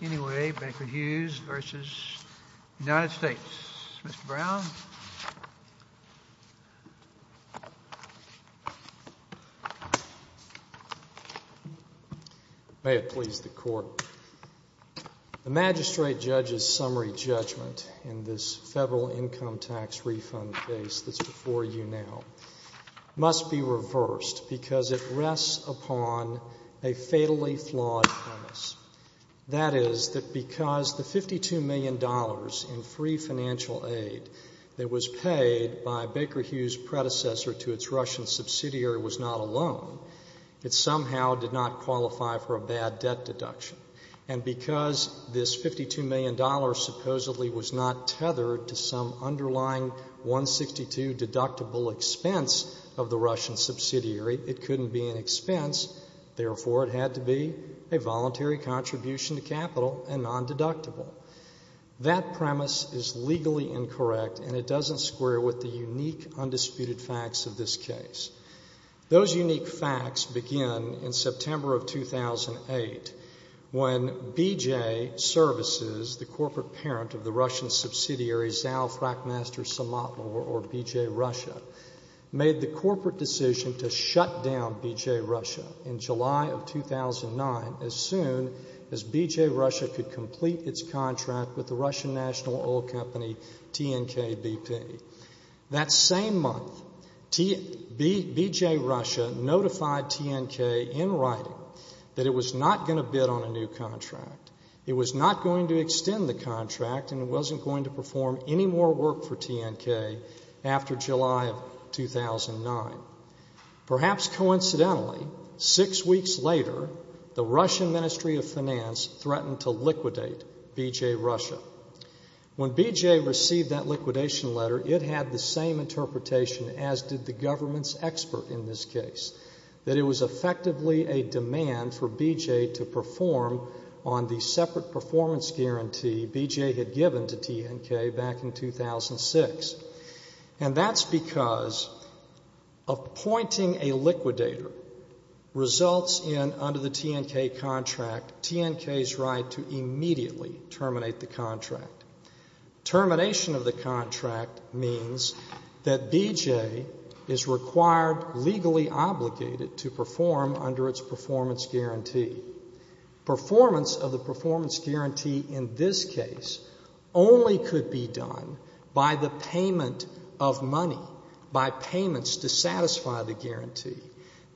May it please the Court, the Magistrate Judge's summary judgment in this federal income tax refund case that's before you now must be reversed because it rests upon a fatally flawed premise. That is that because the $52 million in free financial aid that was paid by Baker Hughes' predecessor to its Russian subsidiary was not a loan, it somehow did not qualify for a bad debt deduction. And because this $52 million supposedly was not tethered to some underlying 162 deductible expense of the Russian subsidiary, it couldn't be an involuntary contribution to capital and non-deductible. That premise is legally incorrect and it doesn't square with the unique, undisputed facts of this case. Those unique facts begin in September of 2008 when BJ Services, the corporate parent of the Russian subsidiary Zal Frackmaster Samotnaya, or BJ Russia, made the corporate decision to shut down BJ Russia in July of 2009 as soon as BJ Russia could complete its contract with the Russian national oil company TNK BP. That same month, BJ Russia notified TNK in writing that it was not going to bid on a new contract. It was not going to extend the contract and it wasn't going to perform any more work for TNK after July of 2009. Perhaps coincidentally, six weeks later, the Russian Ministry of Finance threatened to liquidate BJ Russia. When BJ received that liquidation letter, it had the same interpretation as did the government's expert in this case, that it was effectively a demand for BJ to perform on the separate performance guarantee BJ had given to TNK back in 2006. And that's because appointing a liquidator results in, under the TNK contract, TNK's right to immediately terminate the contract. Termination of the contract means that BJ is required, legally obligated, to perform under its performance guarantee. Performance of the performance guarantee in this case only could be done by the payment of money, by payments to satisfy the guarantee.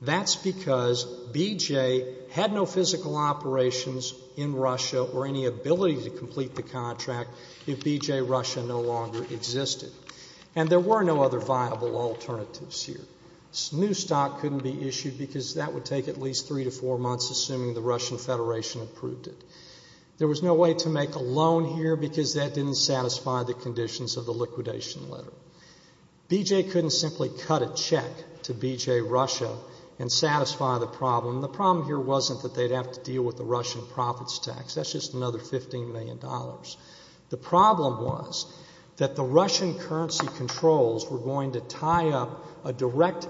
That's because BJ had no physical operations in Russia or any ability to complete the contract if BJ Russia no longer existed. And there were no other viable alternatives here. New stock couldn't be issued because that would take at least three to four months, assuming the Russian Federation approved it. There was no way to make a loan here because that didn't satisfy the conditions of the liquidation letter. BJ couldn't simply cut a check to BJ Russia and satisfy the problem. The problem here wasn't that they'd have to deal with the Russian profits tax. That's just another $15 million. The problem was that the Russian currency controls were going to tie up a direct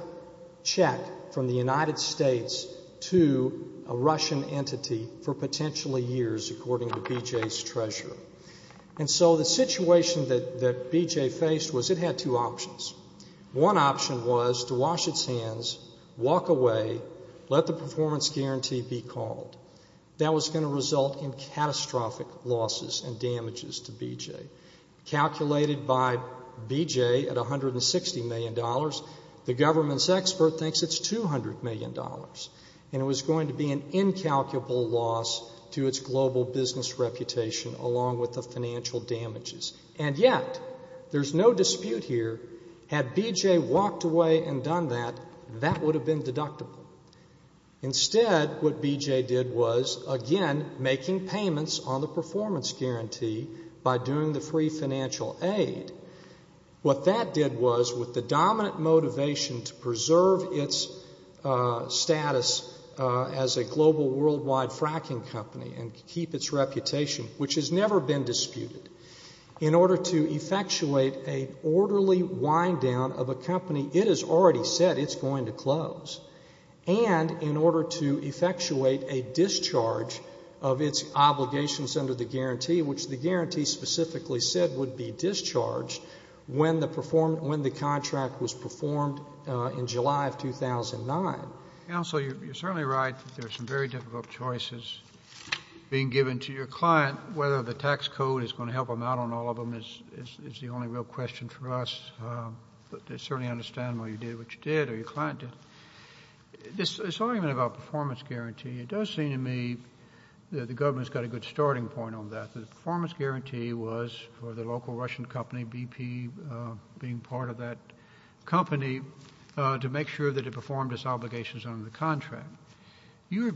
check from the United States to a Russian entity for potentially years, according to BJ's treasurer. And so the situation that BJ faced was it had two options. One option was to wash its hands, walk away, let the performance guarantee be called. That was going to result in catastrophic losses and damages to BJ. Calculated by BJ at $160 million, the government's expert thinks it's $200 million. And it was going to be an incalculable loss to its global business reputation along with the financial damages. And yet, there's no dispute here, had BJ walked away and done that, that would have been deductible. Instead, what BJ did was, again, making payments on the performance guarantee by doing the pre-financial aid, what that did was, with the dominant motivation to preserve its status as a global worldwide fracking company and keep its reputation, which has never been disputed, in order to effectuate an orderly wind-down of a company, it has already said it's going to close, and in order to effectuate a discharge of its obligations under the guarantee, which the guarantee specifically said would be discharged when the contract was performed in July of 2009. Counsel, you're certainly right that there are some very difficult choices being given to your client. Whether the tax code is going to help them out on all of them is the only real question for us. But I certainly understand why you did what you did or your client did. This argument about performance guarantee, it does seem to me that the government's got a good starting point on that. The performance guarantee was for the local Russian company, BP, being part of that company, to make sure that it performed its obligations under the contract. It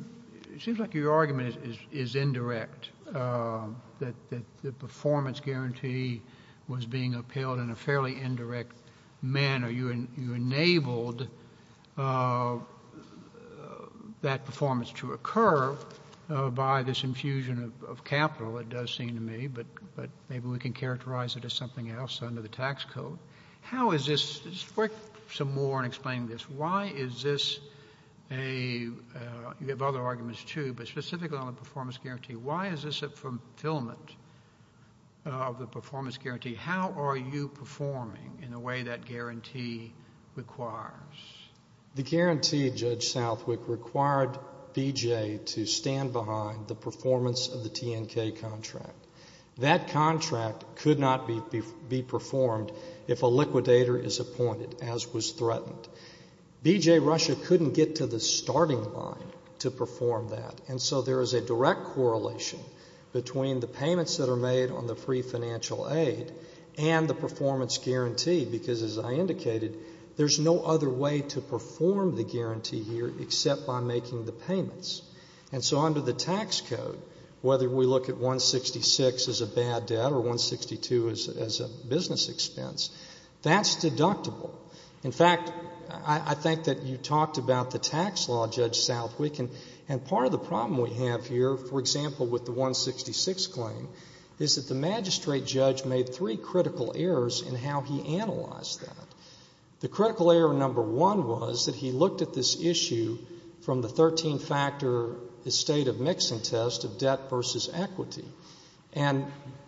seems like your argument is indirect, that the performance guarantee was being upheld in a fairly indirect manner. You enabled that performance to occur by this infusion of the capital, it does seem to me, but maybe we can characterize it as something else under the tax code. How is this? Just work some more on explaining this. Why is this a, you have other arguments, too, but specifically on the performance guarantee, why is this a fulfillment of the performance guarantee? How are you performing in a way that guarantee requires? The guarantee, Judge Southwick, required BJ to stand behind the performance of the TNK contract. That contract could not be performed if a liquidator is appointed, as was threatened. BJ Russia couldn't get to the starting line to perform that, and so there is a direct correlation between the payments that are made on the free financial aid and the performance guarantee, because, as I indicated, there is no other way to perform the guarantee here except by making the payments. And so under the tax code, whether we look at 166 as a bad debt or 162 as a business expense, that's deductible. In fact, I think that you talked about the tax law, Judge Southwick, and part of the problem we have here, for example, with the 166 claim, is that the magistrate judge made three critical errors in how he analyzed that. The critical error number one was that he looked at this issue from the 13-factor estate of mixing test of debt versus equity. And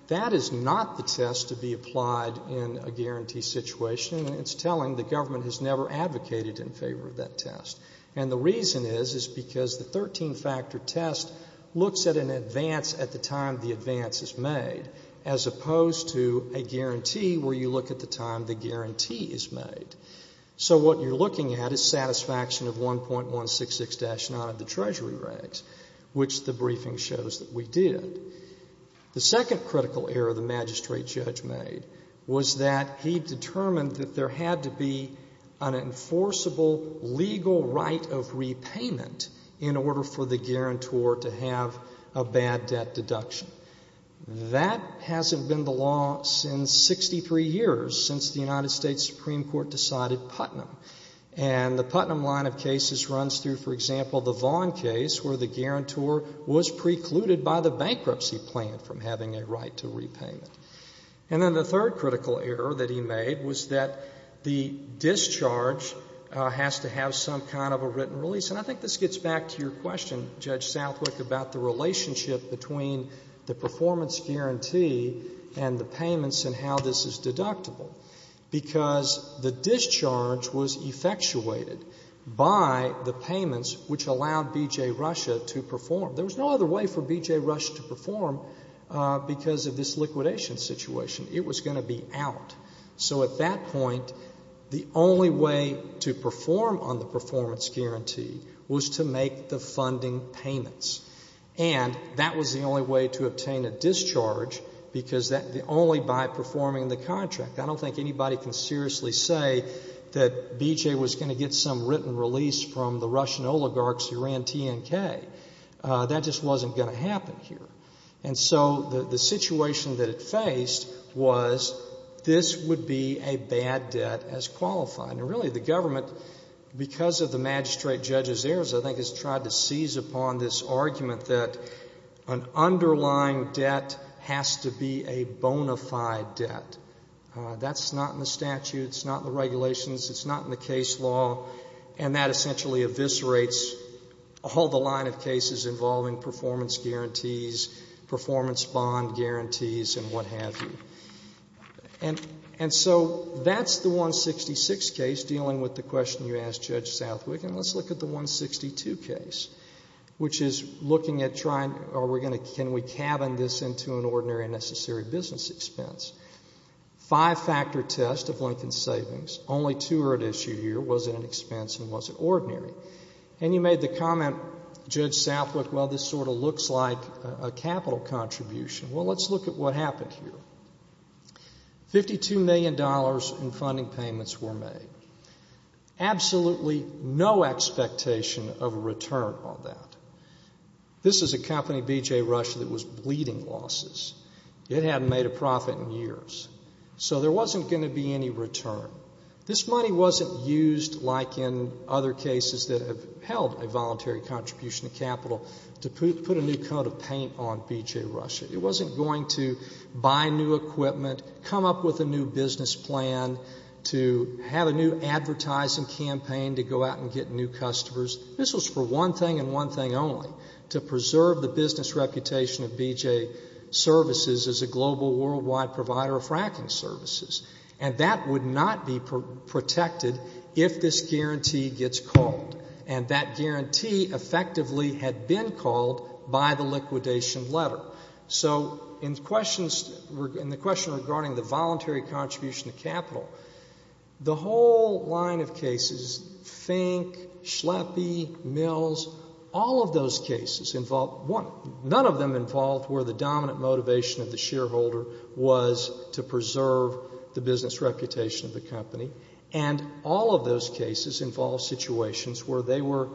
that is not the test to be applied in a guarantee situation, and it's telling the government has never advocated in favor of that test. And the reason is, is because the 13-factor test looks at an advance at the time the advance is made, as opposed to a guarantee where you look at the time the guarantee is made. So what you're looking at is satisfaction of 1.166-9 of the treasury rates, which the briefing shows that we did. The second critical error the magistrate judge made was that he determined that there had to be an enforceable legal right of repayment in order for the guarantor to have a bad debt deduction. That hasn't been the law since 63 years, since the United States Supreme Court decided Putnam. And the Putnam line of cases runs through, for example, the Vaughn case, where the guarantor was precluded by the bankruptcy plan from having a right to repayment. And then the third critical error that he made was that the discharge has to have some kind of a written release. And I think this gets back to your question, Judge Southwick, about the relationship between the performance guarantee and the payments and how this is deductible, because the discharge was effectuated by the payments which allowed B.J. Russia to perform. There was no other way for B.J. Russia to perform because of this liquidation situation. It was going to be out. So at that point, the only way to perform on the performance guarantee was to make the funding payments. And that was the only way to obtain a discharge, because only by performing the contract. I don't think anybody can seriously say that B.J. was going to get some written release from the Russian oligarchs who ran T.N.K. That just wasn't going to happen here. And so the situation that it faced was this would be a bad debt as qualified. And really the government, because of the magistrate judge's errors, I think has tried to seize upon this argument that an underlying debt has to be a bona fide debt. That's not in the statute. It's not in the regulations. It's not in the case law. And that essentially eviscerates all the line of cases involving performance guarantees, performance bond guarantees and what have you. And so that's the 166 case dealing with the question you asked Judge Southwick. And let's look at the 162 case, which is looking at trying, are we going to, can we cabin this into an ordinary and necessary business expense? Five-factor test of Lincoln Savings. Only two are at issue here. Was it an expense and was it ordinary? And you made the comment, Judge Southwick, well, this sort of looks like a capital contribution. Well, let's look at what happened here. Fifty-two million dollars in funding payments were made. Absolutely no expectation of a return on that. This is a company, BJ Rush, that was bleeding losses. It hadn't made a profit in years. So there wasn't going to be any return. This money wasn't used, like in other cases that have held a voluntary contribution of capital, to put a new coat of paint on BJ Rush. It wasn't going to buy new equipment, come up with a new business plan, to have a new advertising campaign to go out and get new customers. This was for one thing and one thing only, to preserve the business reputation of BJ Services as a global worldwide provider of fracking services. And that would not be protected if this guarantee gets called. And that guarantee effectively had been called by the liquidation letter. So in questions, in the question regarding the voluntary contribution of capital, the whole line of cases, Fink, Schleppi, Mills, all of those cases involved, none of them involved where the dominant motivation of the shareholder was to preserve the business reputation of the company. And all of those cases involved situations where they were,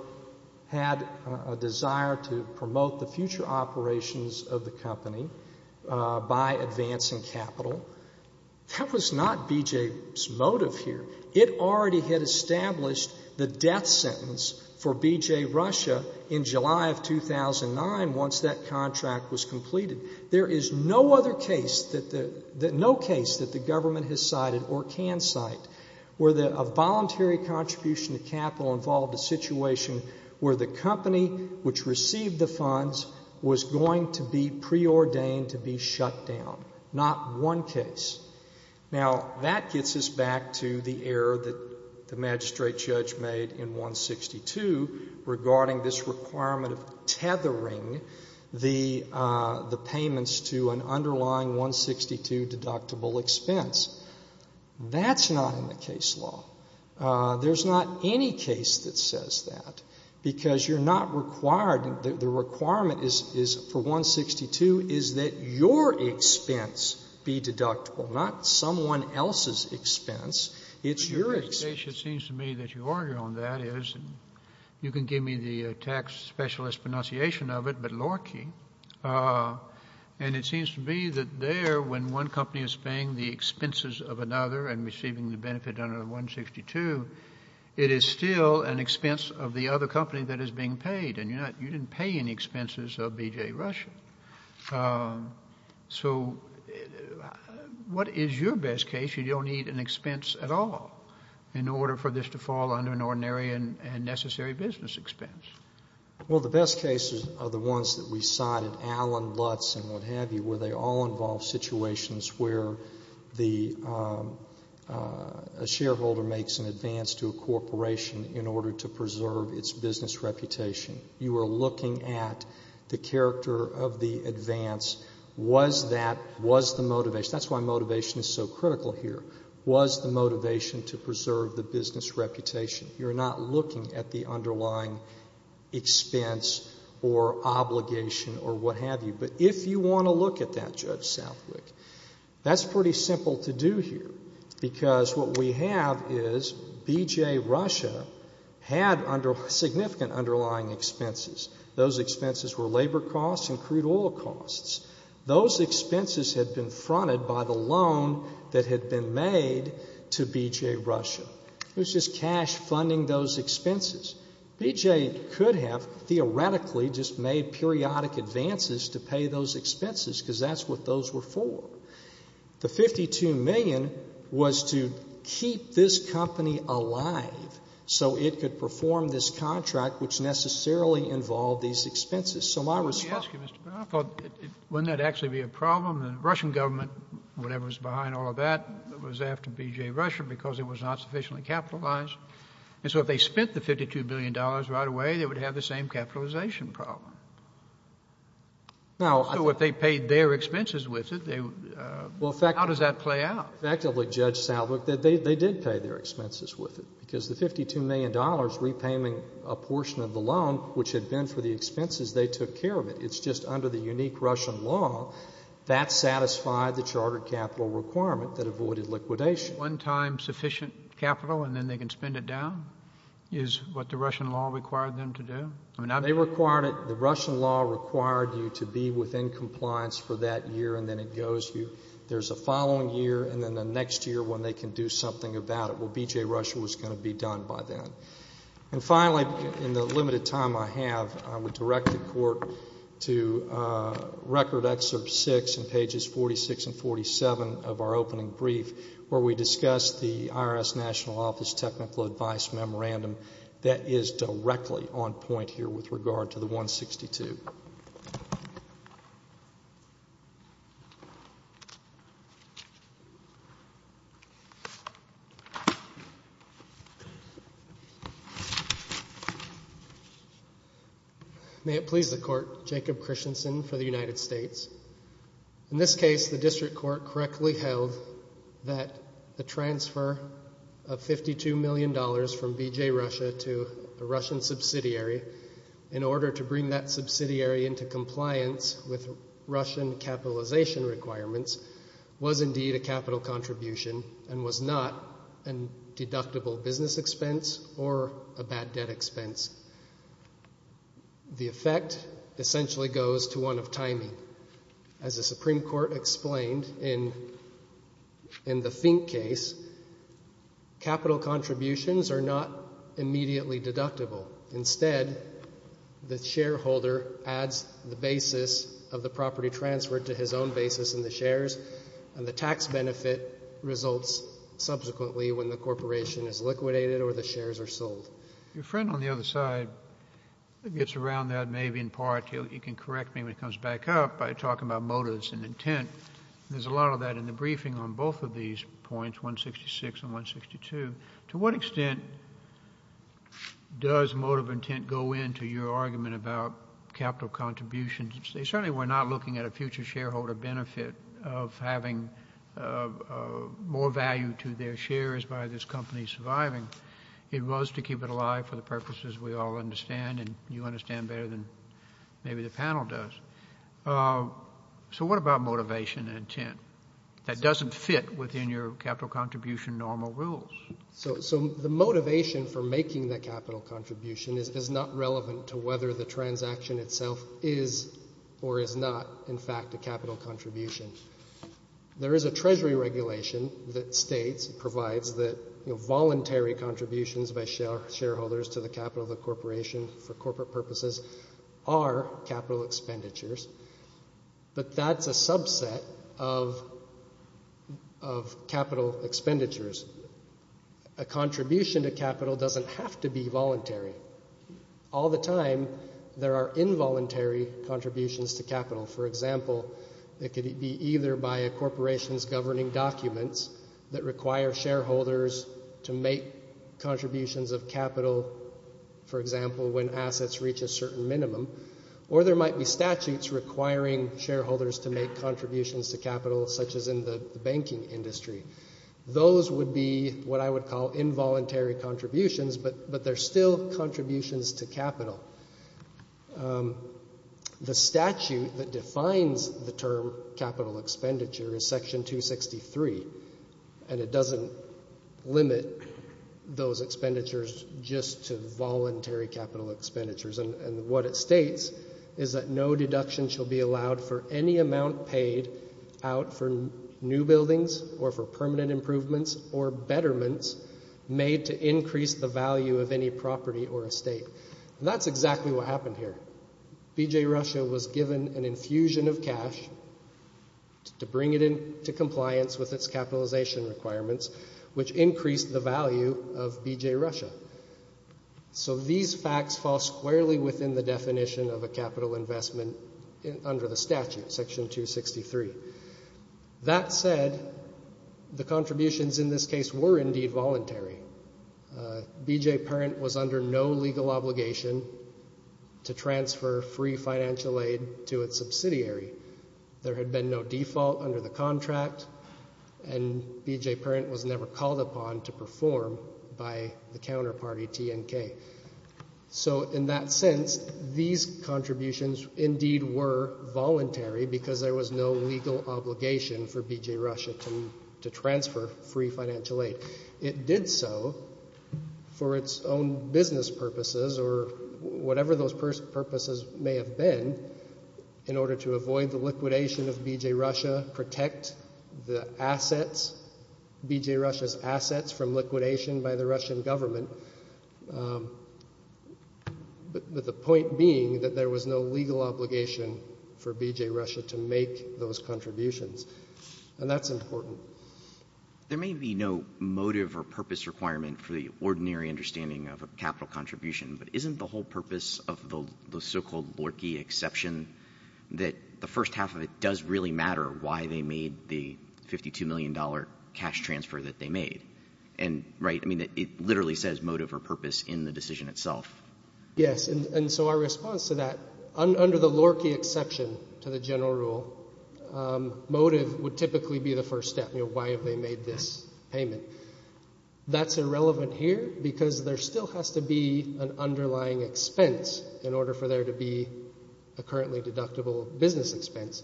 had a desire to promote the future operations of the company by advancing capital. That was not BJ's motive here. It already had established the death sentence for BJ Rush in July of 2009 once that contract was completed. There is no other case that the, no case that the government has cited or can cite where a voluntary contribution of capital involved a situation where the company which received the funds was going to be preordained to be shut down. Not one case. Now that gets us back to the error that the magistrate judge made in 162 regarding this requirement of tethering the payments to an underlying 162 deductible expense. That's not in the case law. There's not any case that says that, because you're not required to, the requirement is, is for 162 is that your expense be deductible, not someone else's expense. It's your expense. Kennedy. It seems to me that your argument on that is, and you can give me the tax specialist pronunciation of it, but Lorkey, and it seems to me that there, when one company is paying the expenses of another and receiving the benefit under the 162, it is still an expense of the other company that is being paid, and you're not, you didn't pay any expenses of BJ Rush. So what is your best case? You don't need an expense at all in order for this to fall under an ordinary and necessary business expense. Well, the best cases are the ones that we cited, Allen, Lutz, and what have you, where they all involve situations where the, a shareholder makes an advance to a corporation in order to preserve its business reputation. You are looking at the character of the advance. Was that, was the motivation, that's why motivation is so critical here, was the motivation to preserve the business reputation? You're not looking at the underlying expense or obligation or what have you, but if you want to look at that, Judge Southwick, that's pretty simple to do here, because what we have is BJ Rush had significant underlying expenses. Those expenses were labor costs and crude oil costs. Those expenses had been fronted by the loan that had been made to BJ Rush. It was just cash funding those expenses. BJ could have theoretically just made periodic advances to pay those expenses, because that's what those were for. The $52 million was to keep this company alive so it could perform this contract which necessarily involved these expenses. So my response to that is, I thought, wouldn't that actually be a problem? The Russian government, whatever was behind all of that, was after BJ Rush because it was not sufficiently capitalized. And so if they spent the $52 million right away, they would have the same capitalization problem. So if they paid their expenses with it, how does that play out? Effectively, Judge Southwick, they did pay their expenses with it, because the $52 million repayment, a portion of the loan which had been for the expenses, they took care of it. It's just under the unique Russian law that satisfied the charter capital requirement that avoided liquidation. One time sufficient capital and then they can spend it down is what the Russian law required them to do? They required it. The Russian law required you to be within compliance for that year and then it goes. There's a following year and then the next year when they can do something about it. Well, BJ Rush was going to be done by then. And finally, in the limited time I have, I would direct the Court to Record Excerpt 6 in pages 46 and 47 of our opening brief where we discuss the IRS National Office Technical Advice Memorandum that is directly on point here with regard to the 162. May it please the Court, Jacob Christensen for the record, that the transfer of $52 million from BJ Rush to a Russian subsidiary in order to bring that subsidiary into compliance with Russian capitalization requirements was indeed a capital contribution and was not a deductible business expense or a bad debt expense. The effect essentially goes to one of timing. As the Supreme Court explained in the Fink case, capital contributions are not immediately deductible. Instead, the shareholder adds the basis of the property transfer to his own basis in the shares and the tax benefit results subsequently when the corporation is liquidated or the shares are sold. Your friend on the other side gets around that maybe in part. You can correct me when he comes back up by talking about motives and intent. There's a lot of that in the briefing on both of these points, 166 and 162. To what extent does motive intent go into your argument about capital contributions? They certainly were not looking at a future shareholder benefit of having more value to their shares by this company surviving. It was to keep it alive for the purposes we all understand and you understand better than maybe the panel does. So what about motivation and intent? That doesn't fit within your capital contribution normal rules. So the motivation for making that capital contribution is not relevant to whether the corporation is liquidated or not. It's a voluntary contribution. There is a treasury regulation that states, provides that voluntary contributions by shareholders to the capital of the corporation for corporate purposes are capital expenditures, but that's a subset of capital expenditures. A contribution to capital doesn't have to be voluntary. All the time there are involuntary contributions to capital. For example, it could be either by a corporation's governing documents that require shareholders to make contributions of capital, for example, when assets reach a certain minimum, or there might be statutes requiring shareholders to make contributions to capital such as in the banking industry. Those would be what I would call involuntary contributions, but they're still contributions to capital. The statute that defines the term capital expenditure is section 263, and it doesn't limit those expenditures just to voluntary capital expenditures, and what it states is that no deduction shall be allowed for any amount paid out for new buildings or for permanent construction. That's exactly what happened here. BJ Russia was given an infusion of cash to bring it into compliance with its capitalization requirements, which increased the value of BJ Russia. So these facts fall squarely within the definition of a capital investment under the statute, section 263. That said, the contributions in this case were indeed voluntary. BJ Parent was under no legal obligation to transfer free financial aid to its subsidiary. There had been no default under the contract, and BJ Parent was never called upon to perform by the counterparty, TNK. So in that sense, these contributions indeed were voluntary because there was no legal obligation for BJ Russia to transfer free financial aid. It did so for its own business purposes, or whatever those purposes may have been, in order to avoid the liquidation of BJ Russia, protect the assets, BJ Russia's assets from liquidation by the Russian government, but the point being that there was no legal obligation for BJ Russia to make those contributions, and that's important. There may be no motive or purpose requirement for the ordinary understanding of a capital contribution, but isn't the whole purpose of the so-called Lorkey exception that the first half of it does really matter why they made the $52 million cash transfer that they made? I mean, it literally says motive or purpose in the decision itself. Yes, and so our response to that, under the Lorkey exception to the general rule, motive would typically be the first step. Why have they made this payment? That's irrelevant here because there still has to be an underlying expense in order for there to be a currently deductible business expense.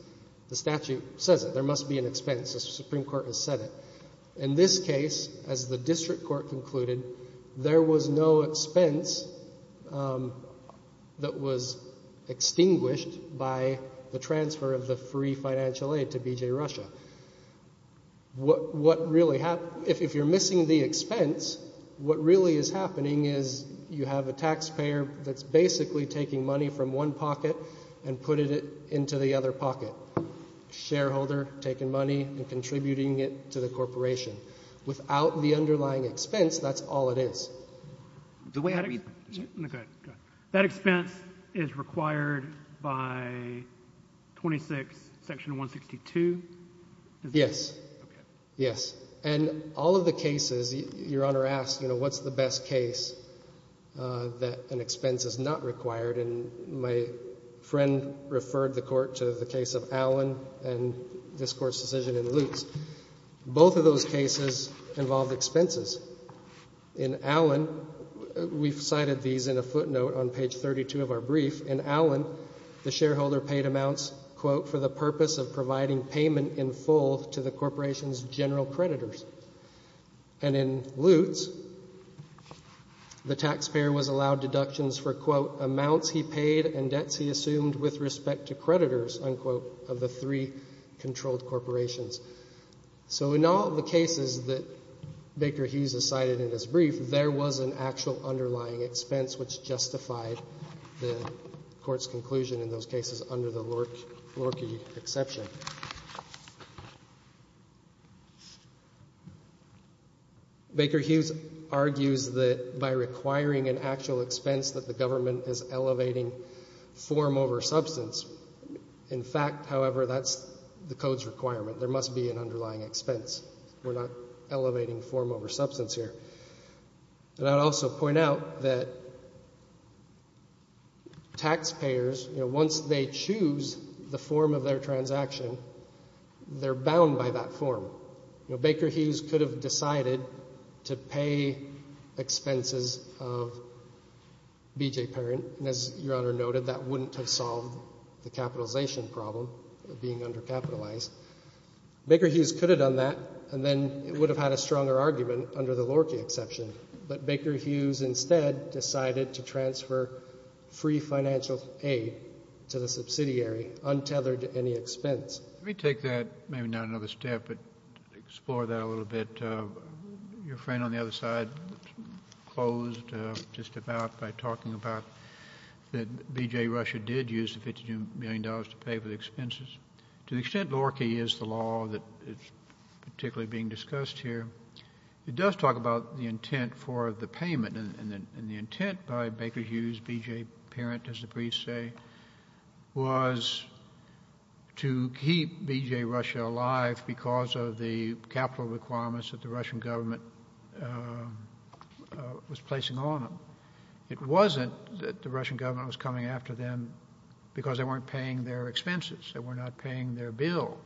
The statute says it. There must be an expense. The Supreme Court has said it. In this case, as the district court concluded, there was no expense that was extinguished by the transfer of the free financial aid to BJ Russia. What really happens, if you're missing the expense, what really is happening is you have a taxpayer that's basically taking money from one pocket and putting it into the other pocket. Shareholder taking money and contributing it to the corporation. Without the underlying expense is required by 26 section 162? Yes. Okay. Yes. And all of the cases, Your Honor asks, you know, what's the best case that an expense is not required? And my friend referred the Court to the case of Allen and this Court's decision in Luke's. Both of those cases involved expenses. In Allen, we've cited these in a brief. In Allen, the shareholder paid amounts, quote, for the purpose of providing payment in full to the corporation's general creditors. And in Lutz, the taxpayer was allowed deductions for, quote, amounts he paid and debts he assumed with respect to creditors, unquote, of the three controlled corporations. So in all the cases that Baker Hughes has cited in his brief, there was an actual underlying expense which justified the Court's conclusion in those cases under the Lorchie exception. Baker Hughes argues that by requiring an actual expense that the government is elevating form over substance. In fact, however, that's the Code's requirement. There must be an underlying expense. We're not elevating form over substance here. And I'd also point out that taxpayers, you know, once they choose the form of their transaction, they're bound by that form. You know, Baker Hughes could have decided to pay expenses of BJ Parent. And as Your Honor noted, that wouldn't have solved the capitalization problem of being undercapitalized. Baker Hughes could have done that, and then it would have had a stronger argument under the Lorchie exception. But Baker Hughes instead decided to transfer free financial aid to the subsidiary, untethered to any expense. Let me take that, maybe not another step, but explore that a little bit. Your friend on the other side closed just about by talking about that BJ Rusher did use the $52 million to pay for the expenses. To the extent Lorchie is the law that is particularly being discussed here, it does talk about the intent for the payment. And the intent by Baker Hughes, BJ Parent, as the briefs say, was to keep BJ Rusher alive because of the capital requirements that the Russian government was placing on him. It wasn't that the Russian government was coming after them because they weren't paying their expenses, they were not paying their bills.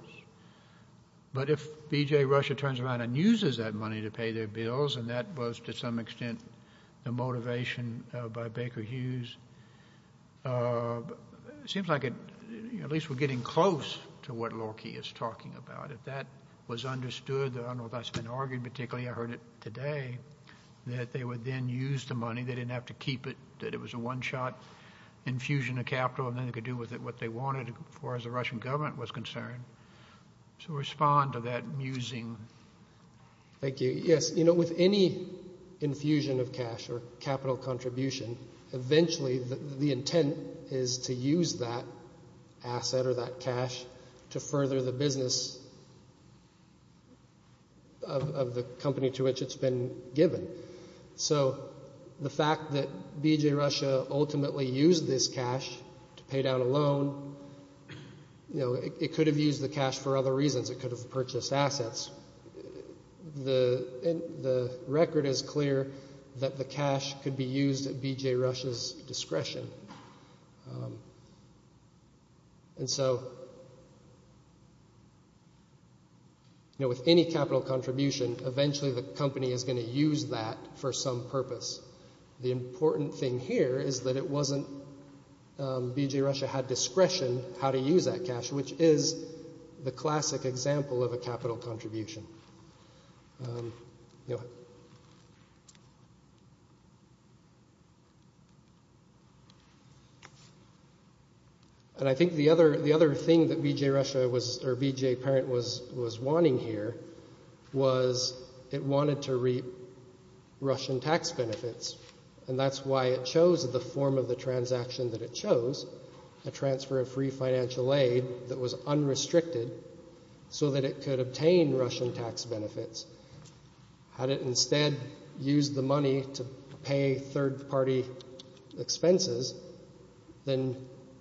But if BJ Rusher turns around and uses that money to pay their bills, and that was to some extent the motivation by Baker Hughes, it seems like at least we're getting close to what Lorchie is talking about. If that was understood, I don't know if that's been argued particularly, I heard it today, that they would then use the money, they didn't have to keep it, that it was a one-shot infusion of capital and then they could do with it what they wanted as far as the Russian government was concerned. So respond to that musing. Thank you. Yes, you know, with any infusion of cash or capital contribution, eventually the intent is to use that asset or that cash to further the business of the company to which it's been given. So the fact that BJ Rusher ultimately used this cash to pay down a loan, you know, it could have used the cash for other reasons. It could have purchased assets. The record is clear that the cash could be used at BJ Rusher's discretion. And so, you know, with any capital contribution, eventually the company is going to use that for some purpose. The important thing here is that it wasn't BJ Rusher had discretion how to use that cash, which is the classic example of a capital contribution. And I think the other thing that BJ Rusher was or BJ Parent was wanting here was it wanted to reap Russian tax benefits. And that's why it chose the form of the transaction that it chose, a transfer of free financial aid that was unrestricted so that it could obtain Russian tax benefits. Had it instead used the money to pay third-party expenses, then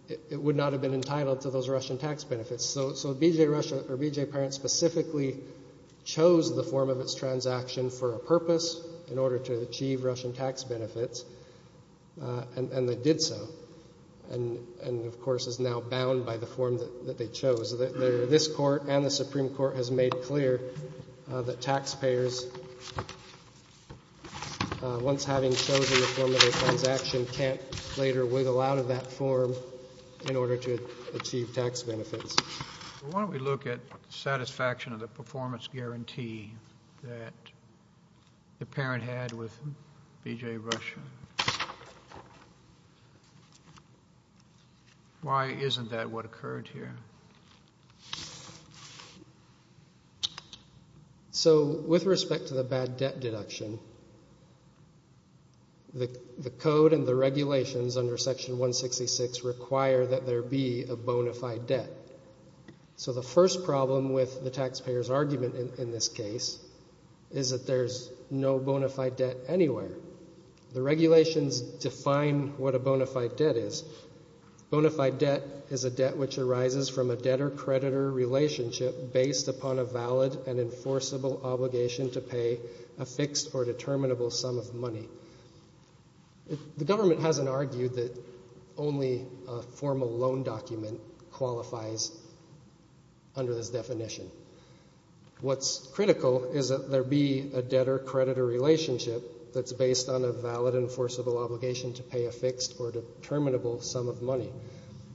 it would not have been entitled to those Russian tax benefits. So BJ Rusher or BJ Parent specifically chose the form of its transaction for a purpose in order to achieve Russian tax benefits, and they did so, and of course is now bound by the form that they chose. This court and the Supreme Court has made clear that taxpayers, once having chosen the form of their transaction, can't later wiggle out of that form in order to achieve tax benefits. Well, why don't we look at the satisfaction of the performance guarantee that the parent had with BJ Rusher? Why isn't that what occurred here? So with respect to the bad debt deduction, the code and the regulations under Section 166 require that there be a bona fide debt. So the first problem with the taxpayer's argument in this case is that there's no bona fide debt anywhere. The regulations define what a bona fide debt is. Bona fide debt is a debt which arises from a debtor-creditor relationship based upon a valid and enforceable obligation to pay a fixed or determinable sum of money. The government hasn't argued that only a formal loan document qualifies under this definition. What's critical is that there be a debtor-creditor relationship that's based on a valid enforceable obligation to pay a fixed or determinable sum of money.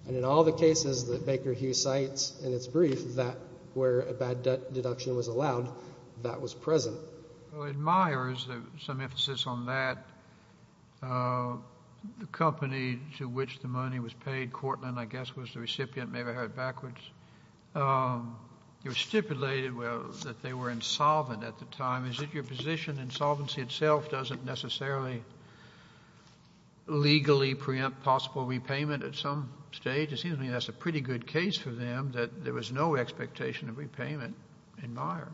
And in all the cases that Baker Hughes cites in its brief that where a bad debt deduction was at, the company to which the money was paid, Cortland, I guess, was the recipient. Maybe I heard it backwards. It was stipulated that they were insolvent at the time. Is it your position insolvency itself doesn't necessarily legally preempt possible repayment at some stage? It seems to me that's a pretty good case for them that there was no expectation of repayment in Myers.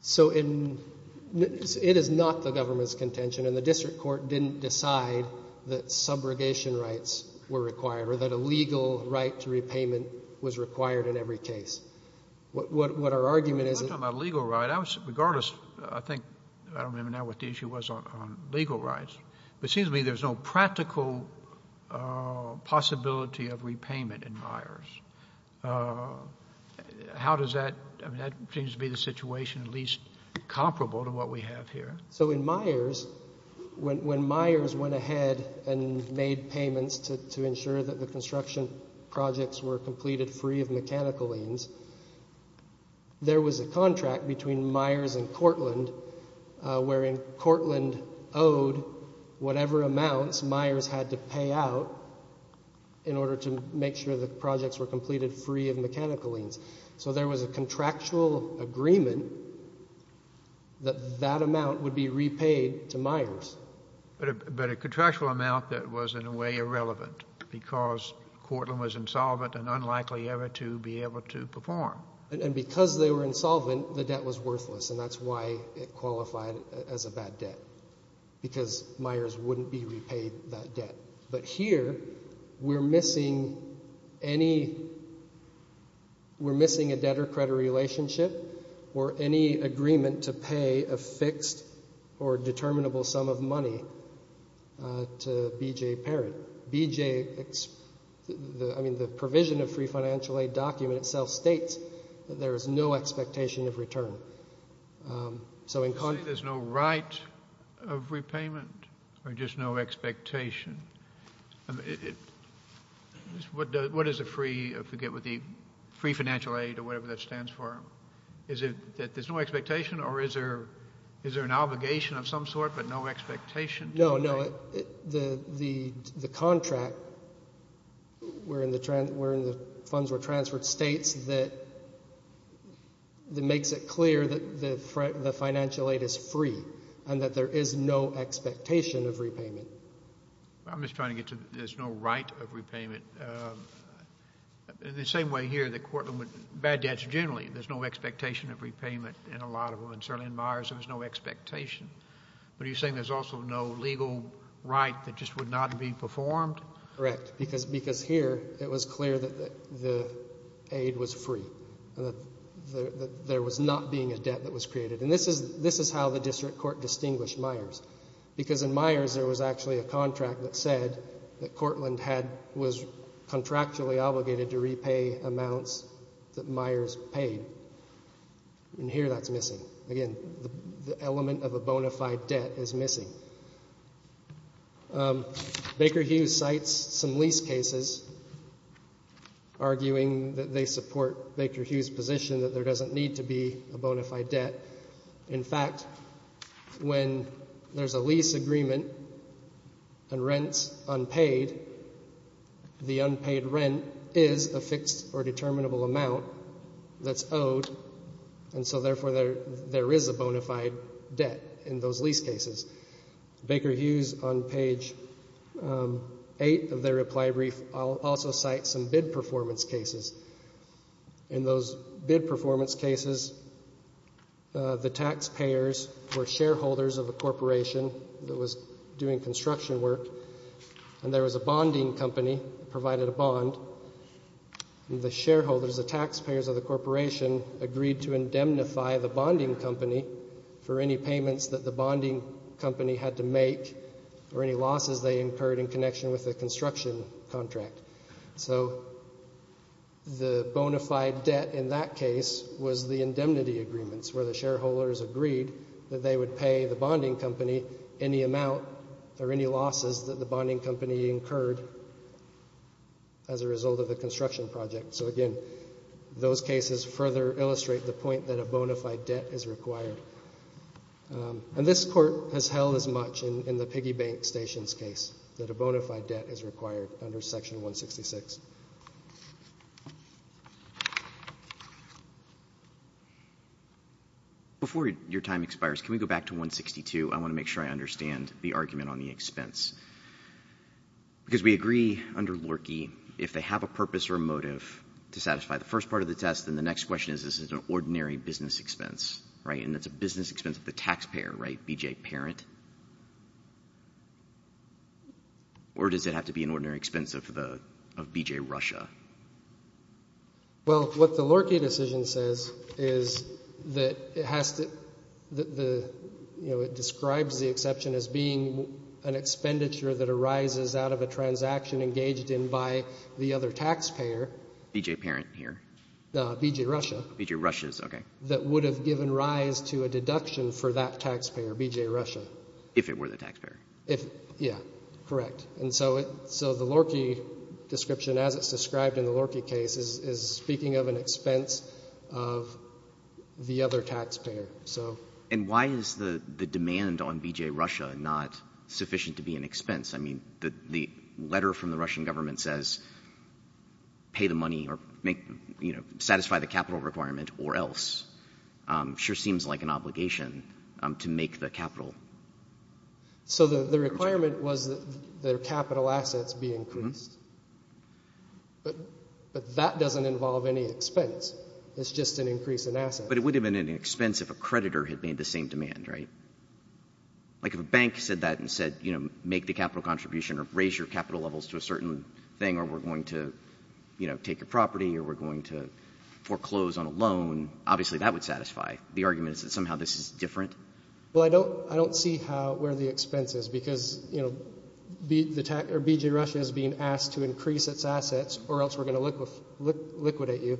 So it is not the government's contention and the district court didn't decide that subrogation rights were required, or that a legal right to repayment was required in every case. What our argument is… We're not talking about a legal right. Regardless, I think, I don't remember now what the issue was on legal rights, but it seems to me there's no practical possibility of repayment in Myers. How does that… that seems to be the situation at least comparable to what we have here. So in Myers, when Myers went ahead and made payments to ensure that the construction projects were completed free of mechanical liens, there was a contract between Myers and Cortland wherein Cortland owed whatever amounts Myers had to pay out in order to make sure the projects were completed free of mechanical liens. So there was a contractual agreement that that amount would be repaid to Myers. But a contractual amount that was in a way irrelevant because Cortland was insolvent and unlikely ever to be able to perform. And because they were insolvent, the debt was worthless and that's why it qualified as a bad debt because Myers wouldn't be repaid that debt. But here, we're missing any… we're missing a debtor-creditor relationship or any agreement to pay a fixed or determinable sum of money to B.J. Parent. B.J.… I mean, the provision of free financial aid document itself states that there is no expectation of return. So in… You're saying there's no right of repayment or just no expectation? I mean, what is a free… I forget what the… free financial aid or whatever that stands for. Is it that there's no expectation or is there an obligation of some sort but no expectation? No, no. The contract wherein the funds were transferred states that makes it clear that the… the financial aid is free and that there is no expectation of repayment. I'm just trying to get to there's no right of repayment. The same way here that Cortland would… bad debts generally, there's no expectation of repayment in a lot of them and certainly in Myers, there was no expectation. But are you saying there's also no legal right that just would not be performed? Correct. Because… because here, it was clear that the aid was free and that there was not being a debt that was created. And this is… this is how the district court distinguished Myers. Because in Myers, there was actually a contract that said that Cortland had… was contractually obligated to repay amounts that Myers paid. And here, that's missing. Again, the element of a bona fide debt is missing. Baker Hughes cites some lease cases arguing that they support Baker Hughes' position that there doesn't need to be a bona fide debt. In fact, when there's a lease agreement and rent's unpaid, the unpaid rent is a fixed or determinable amount that's owed, and so therefore there… there is a bona fide debt in those lease cases. Baker Hughes on page 8 of their reply brief also cites some bid performance cases. In those bid performance cases, the taxpayers were shareholders of a corporation that was doing construction work, and there was a bonding company that provided a bond. The shareholders, the taxpayers of the corporation, agreed to indemnify the bonding company for any payments that the bonding company had to make or any losses they incurred in connection with the construction contract. So the bona fide debt in that case was the indemnity agreements where the shareholders agreed that they would pay the bonding company any amount or any losses that the bonding company incurred as a result of the construction project. So again, those cases further illustrate the point that a bona fide debt is required. And this Court has held as much in the Piggybank Station's case that a bona fide debt is required under Section 166. Before your time expires, can we go back to 162? I want to make sure I understand the argument on the expense, because we agree under Lorchie if they have a purpose or a motive to satisfy the first part of the test, then the next question is, is it an ordinary business expense, right, and it's a business expense of the taxpayer, right, BJ Parent? Or does it have to be an ordinary expense of BJ Russia? Well, what the Lorchie decision says is that it has to, you know, it describes the exception as being an expenditure that arises out of a transaction engaged in by the other taxpayer. BJ Parent here? No, BJ Russia. BJ Russia, okay. That would have given rise to a deduction for that taxpayer, BJ Russia. If it were the taxpayer. If, yeah, correct. And so the Lorchie description as it's described in the Lorchie case is speaking of an expense of the other taxpayer, so. And why is the demand on BJ Russia not sufficient to be an expense? I mean, the letter from the requirement or else sure seems like an obligation to make the capital. So the requirement was that their capital assets be increased, but that doesn't involve any expense. It's just an increase in assets. But it would have been an expense if a creditor had made the same demand, right? Like if a bank said that and said, you know, make the capital contribution or raise your capital levels to a certain thing or we're going to, you know, take a property or we're going to make a loan, obviously that would satisfy. The argument is that somehow this is different. Well, I don't, I don't see how, where the expense is because, you know, BJ Russia is being asked to increase its assets or else we're going to liquidate you.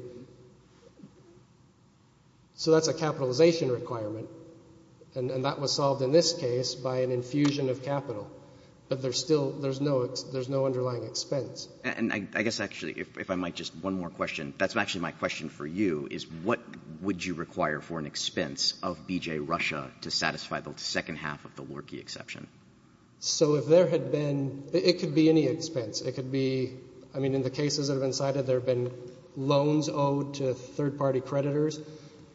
So that's a capitalization requirement. And that was solved in this case by an infusion of capital. But there's still, there's no, there's no underlying expense. And I guess actually, if I might, just one more question. That's actually my question for you is what would you require for an expense of BJ Russia to satisfy the second half of the Lorkey exception? So if there had been, it could be any expense. It could be, I mean, in the cases that have been cited, there have been loans owed to third party creditors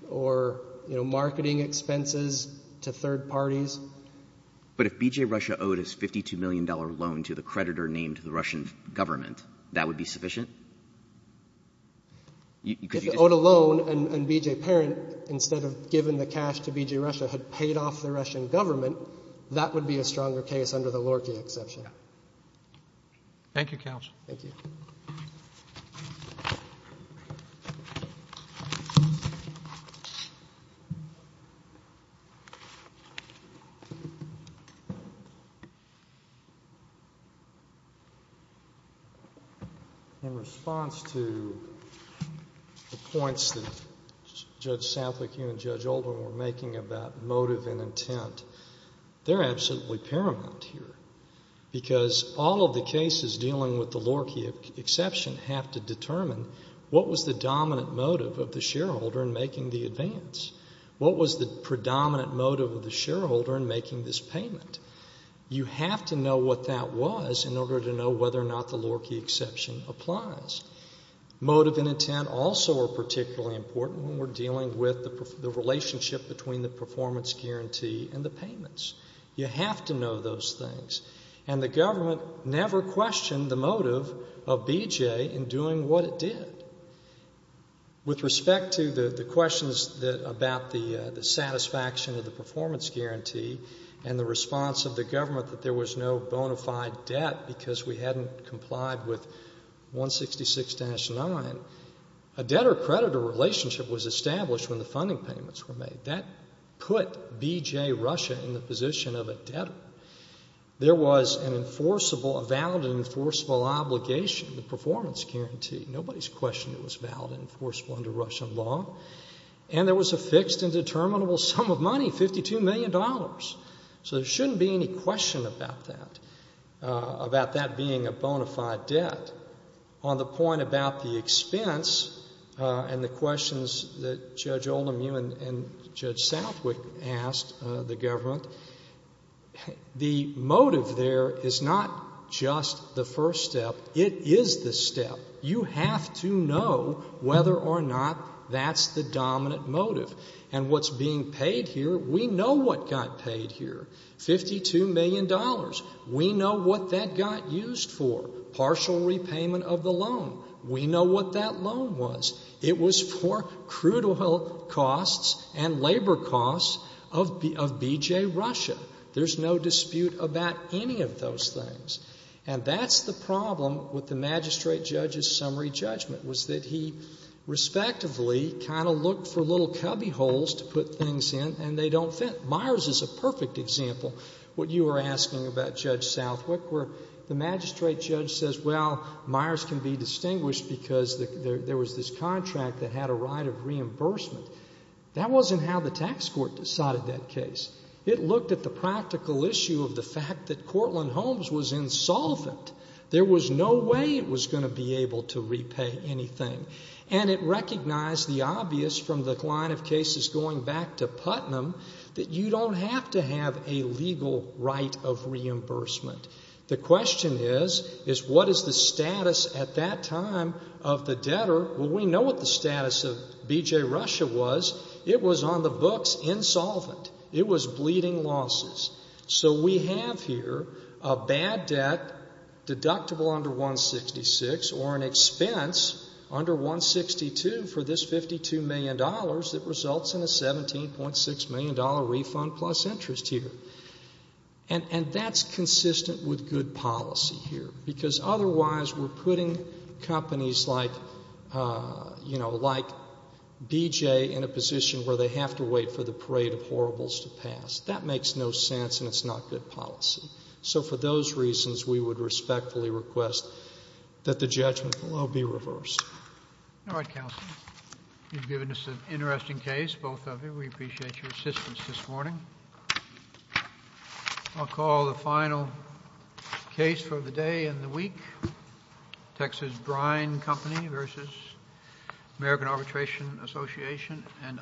or, you know, marketing expenses to third parties. But if BJ Russia owed us $52 million loan to the creditor named the Russian government, that would be sufficient? If the owed a loan and BJ Parent, instead of giving the cash to BJ Russia, had paid off the Russian government, that would be a stronger case under the Lorkey exception. Thank you, Counsel. Thank you. In response to the points that Judge Sanflake and Judge Oldham were making about motive and intent, they're absolutely paramount here. Because all of the cases dealing with the Lorkey exception have to determine what was the dominant motive of the shareholder in making the advance? What was the predominant motive of the shareholder in making this payment? You have to know what that was in order to know whether or not the Lorkey exception applies. Motive and intent also are particularly important when we're dealing with the relationship between the performance guarantee and the payments. You have to know those things. And the government never questioned the motive of BJ in doing what it did. With respect to the questions about the satisfaction of the performance guarantee and the response of the government that there was no bona fide debt because we hadn't complied with 166-9, a debtor-creditor relationship was established when the funding payments were made. That put BJ Russia in the position of a debtor. There was an enforceable, a valid and enforceable obligation, the performance guarantee. Nobody's questioned it was valid and enforceable under Russian law. And there was a fixed and determinable sum of money, $52 million. So there shouldn't be any question about that, about that being a bona fide debt. On the point about the expense and the questions that Judge Oldham, you and Judge Southwick asked the government, the motive there is not just the first step. It is the step. You have to know whether or not that's the dominant motive. And what's being paid here, we know what got paid here, $52 million. We know what that got used for, partial repayment of the loan. We know what that loan was. It was for crude oil costs and labor costs of BJ Russia. There's no dispute about any of those things. And that's the problem with the magistrate judge's summary judgment was that he respectively kind of looked for little Myers is a perfect example, what you were asking about Judge Southwick, where the magistrate judge says, well, Myers can be distinguished because there was this contract that had a right of reimbursement. That wasn't how the tax court decided that case. It looked at the practical issue of the fact that Cortland Holmes was insolvent. There was no way it was going to be able to repay anything. And it recognized the obvious from the line of don't have to have a legal right of reimbursement. The question is, is what is the status at that time of the debtor? Well, we know what the status of BJ Russia was. It was on the books, insolvent. It was bleeding losses. So we have here a bad debt deductible under 166 or an expense under 162 for this $52 million that results in a $17.6 million refund plus interest here. And that's consistent with good policy here, because otherwise we're putting companies like, you know, like BJ in a position where they have to wait for the parade of horribles to pass. That makes no sense, and it's not good policy. So for those reasons, we would respectfully request that the judgment below be reversed. All right, counsel. You've given us an interesting case, both of you. We appreciate your assistance this morning. I'll call the final case for the day and the week. Texas Brine Company versus American Arbitration Association and others.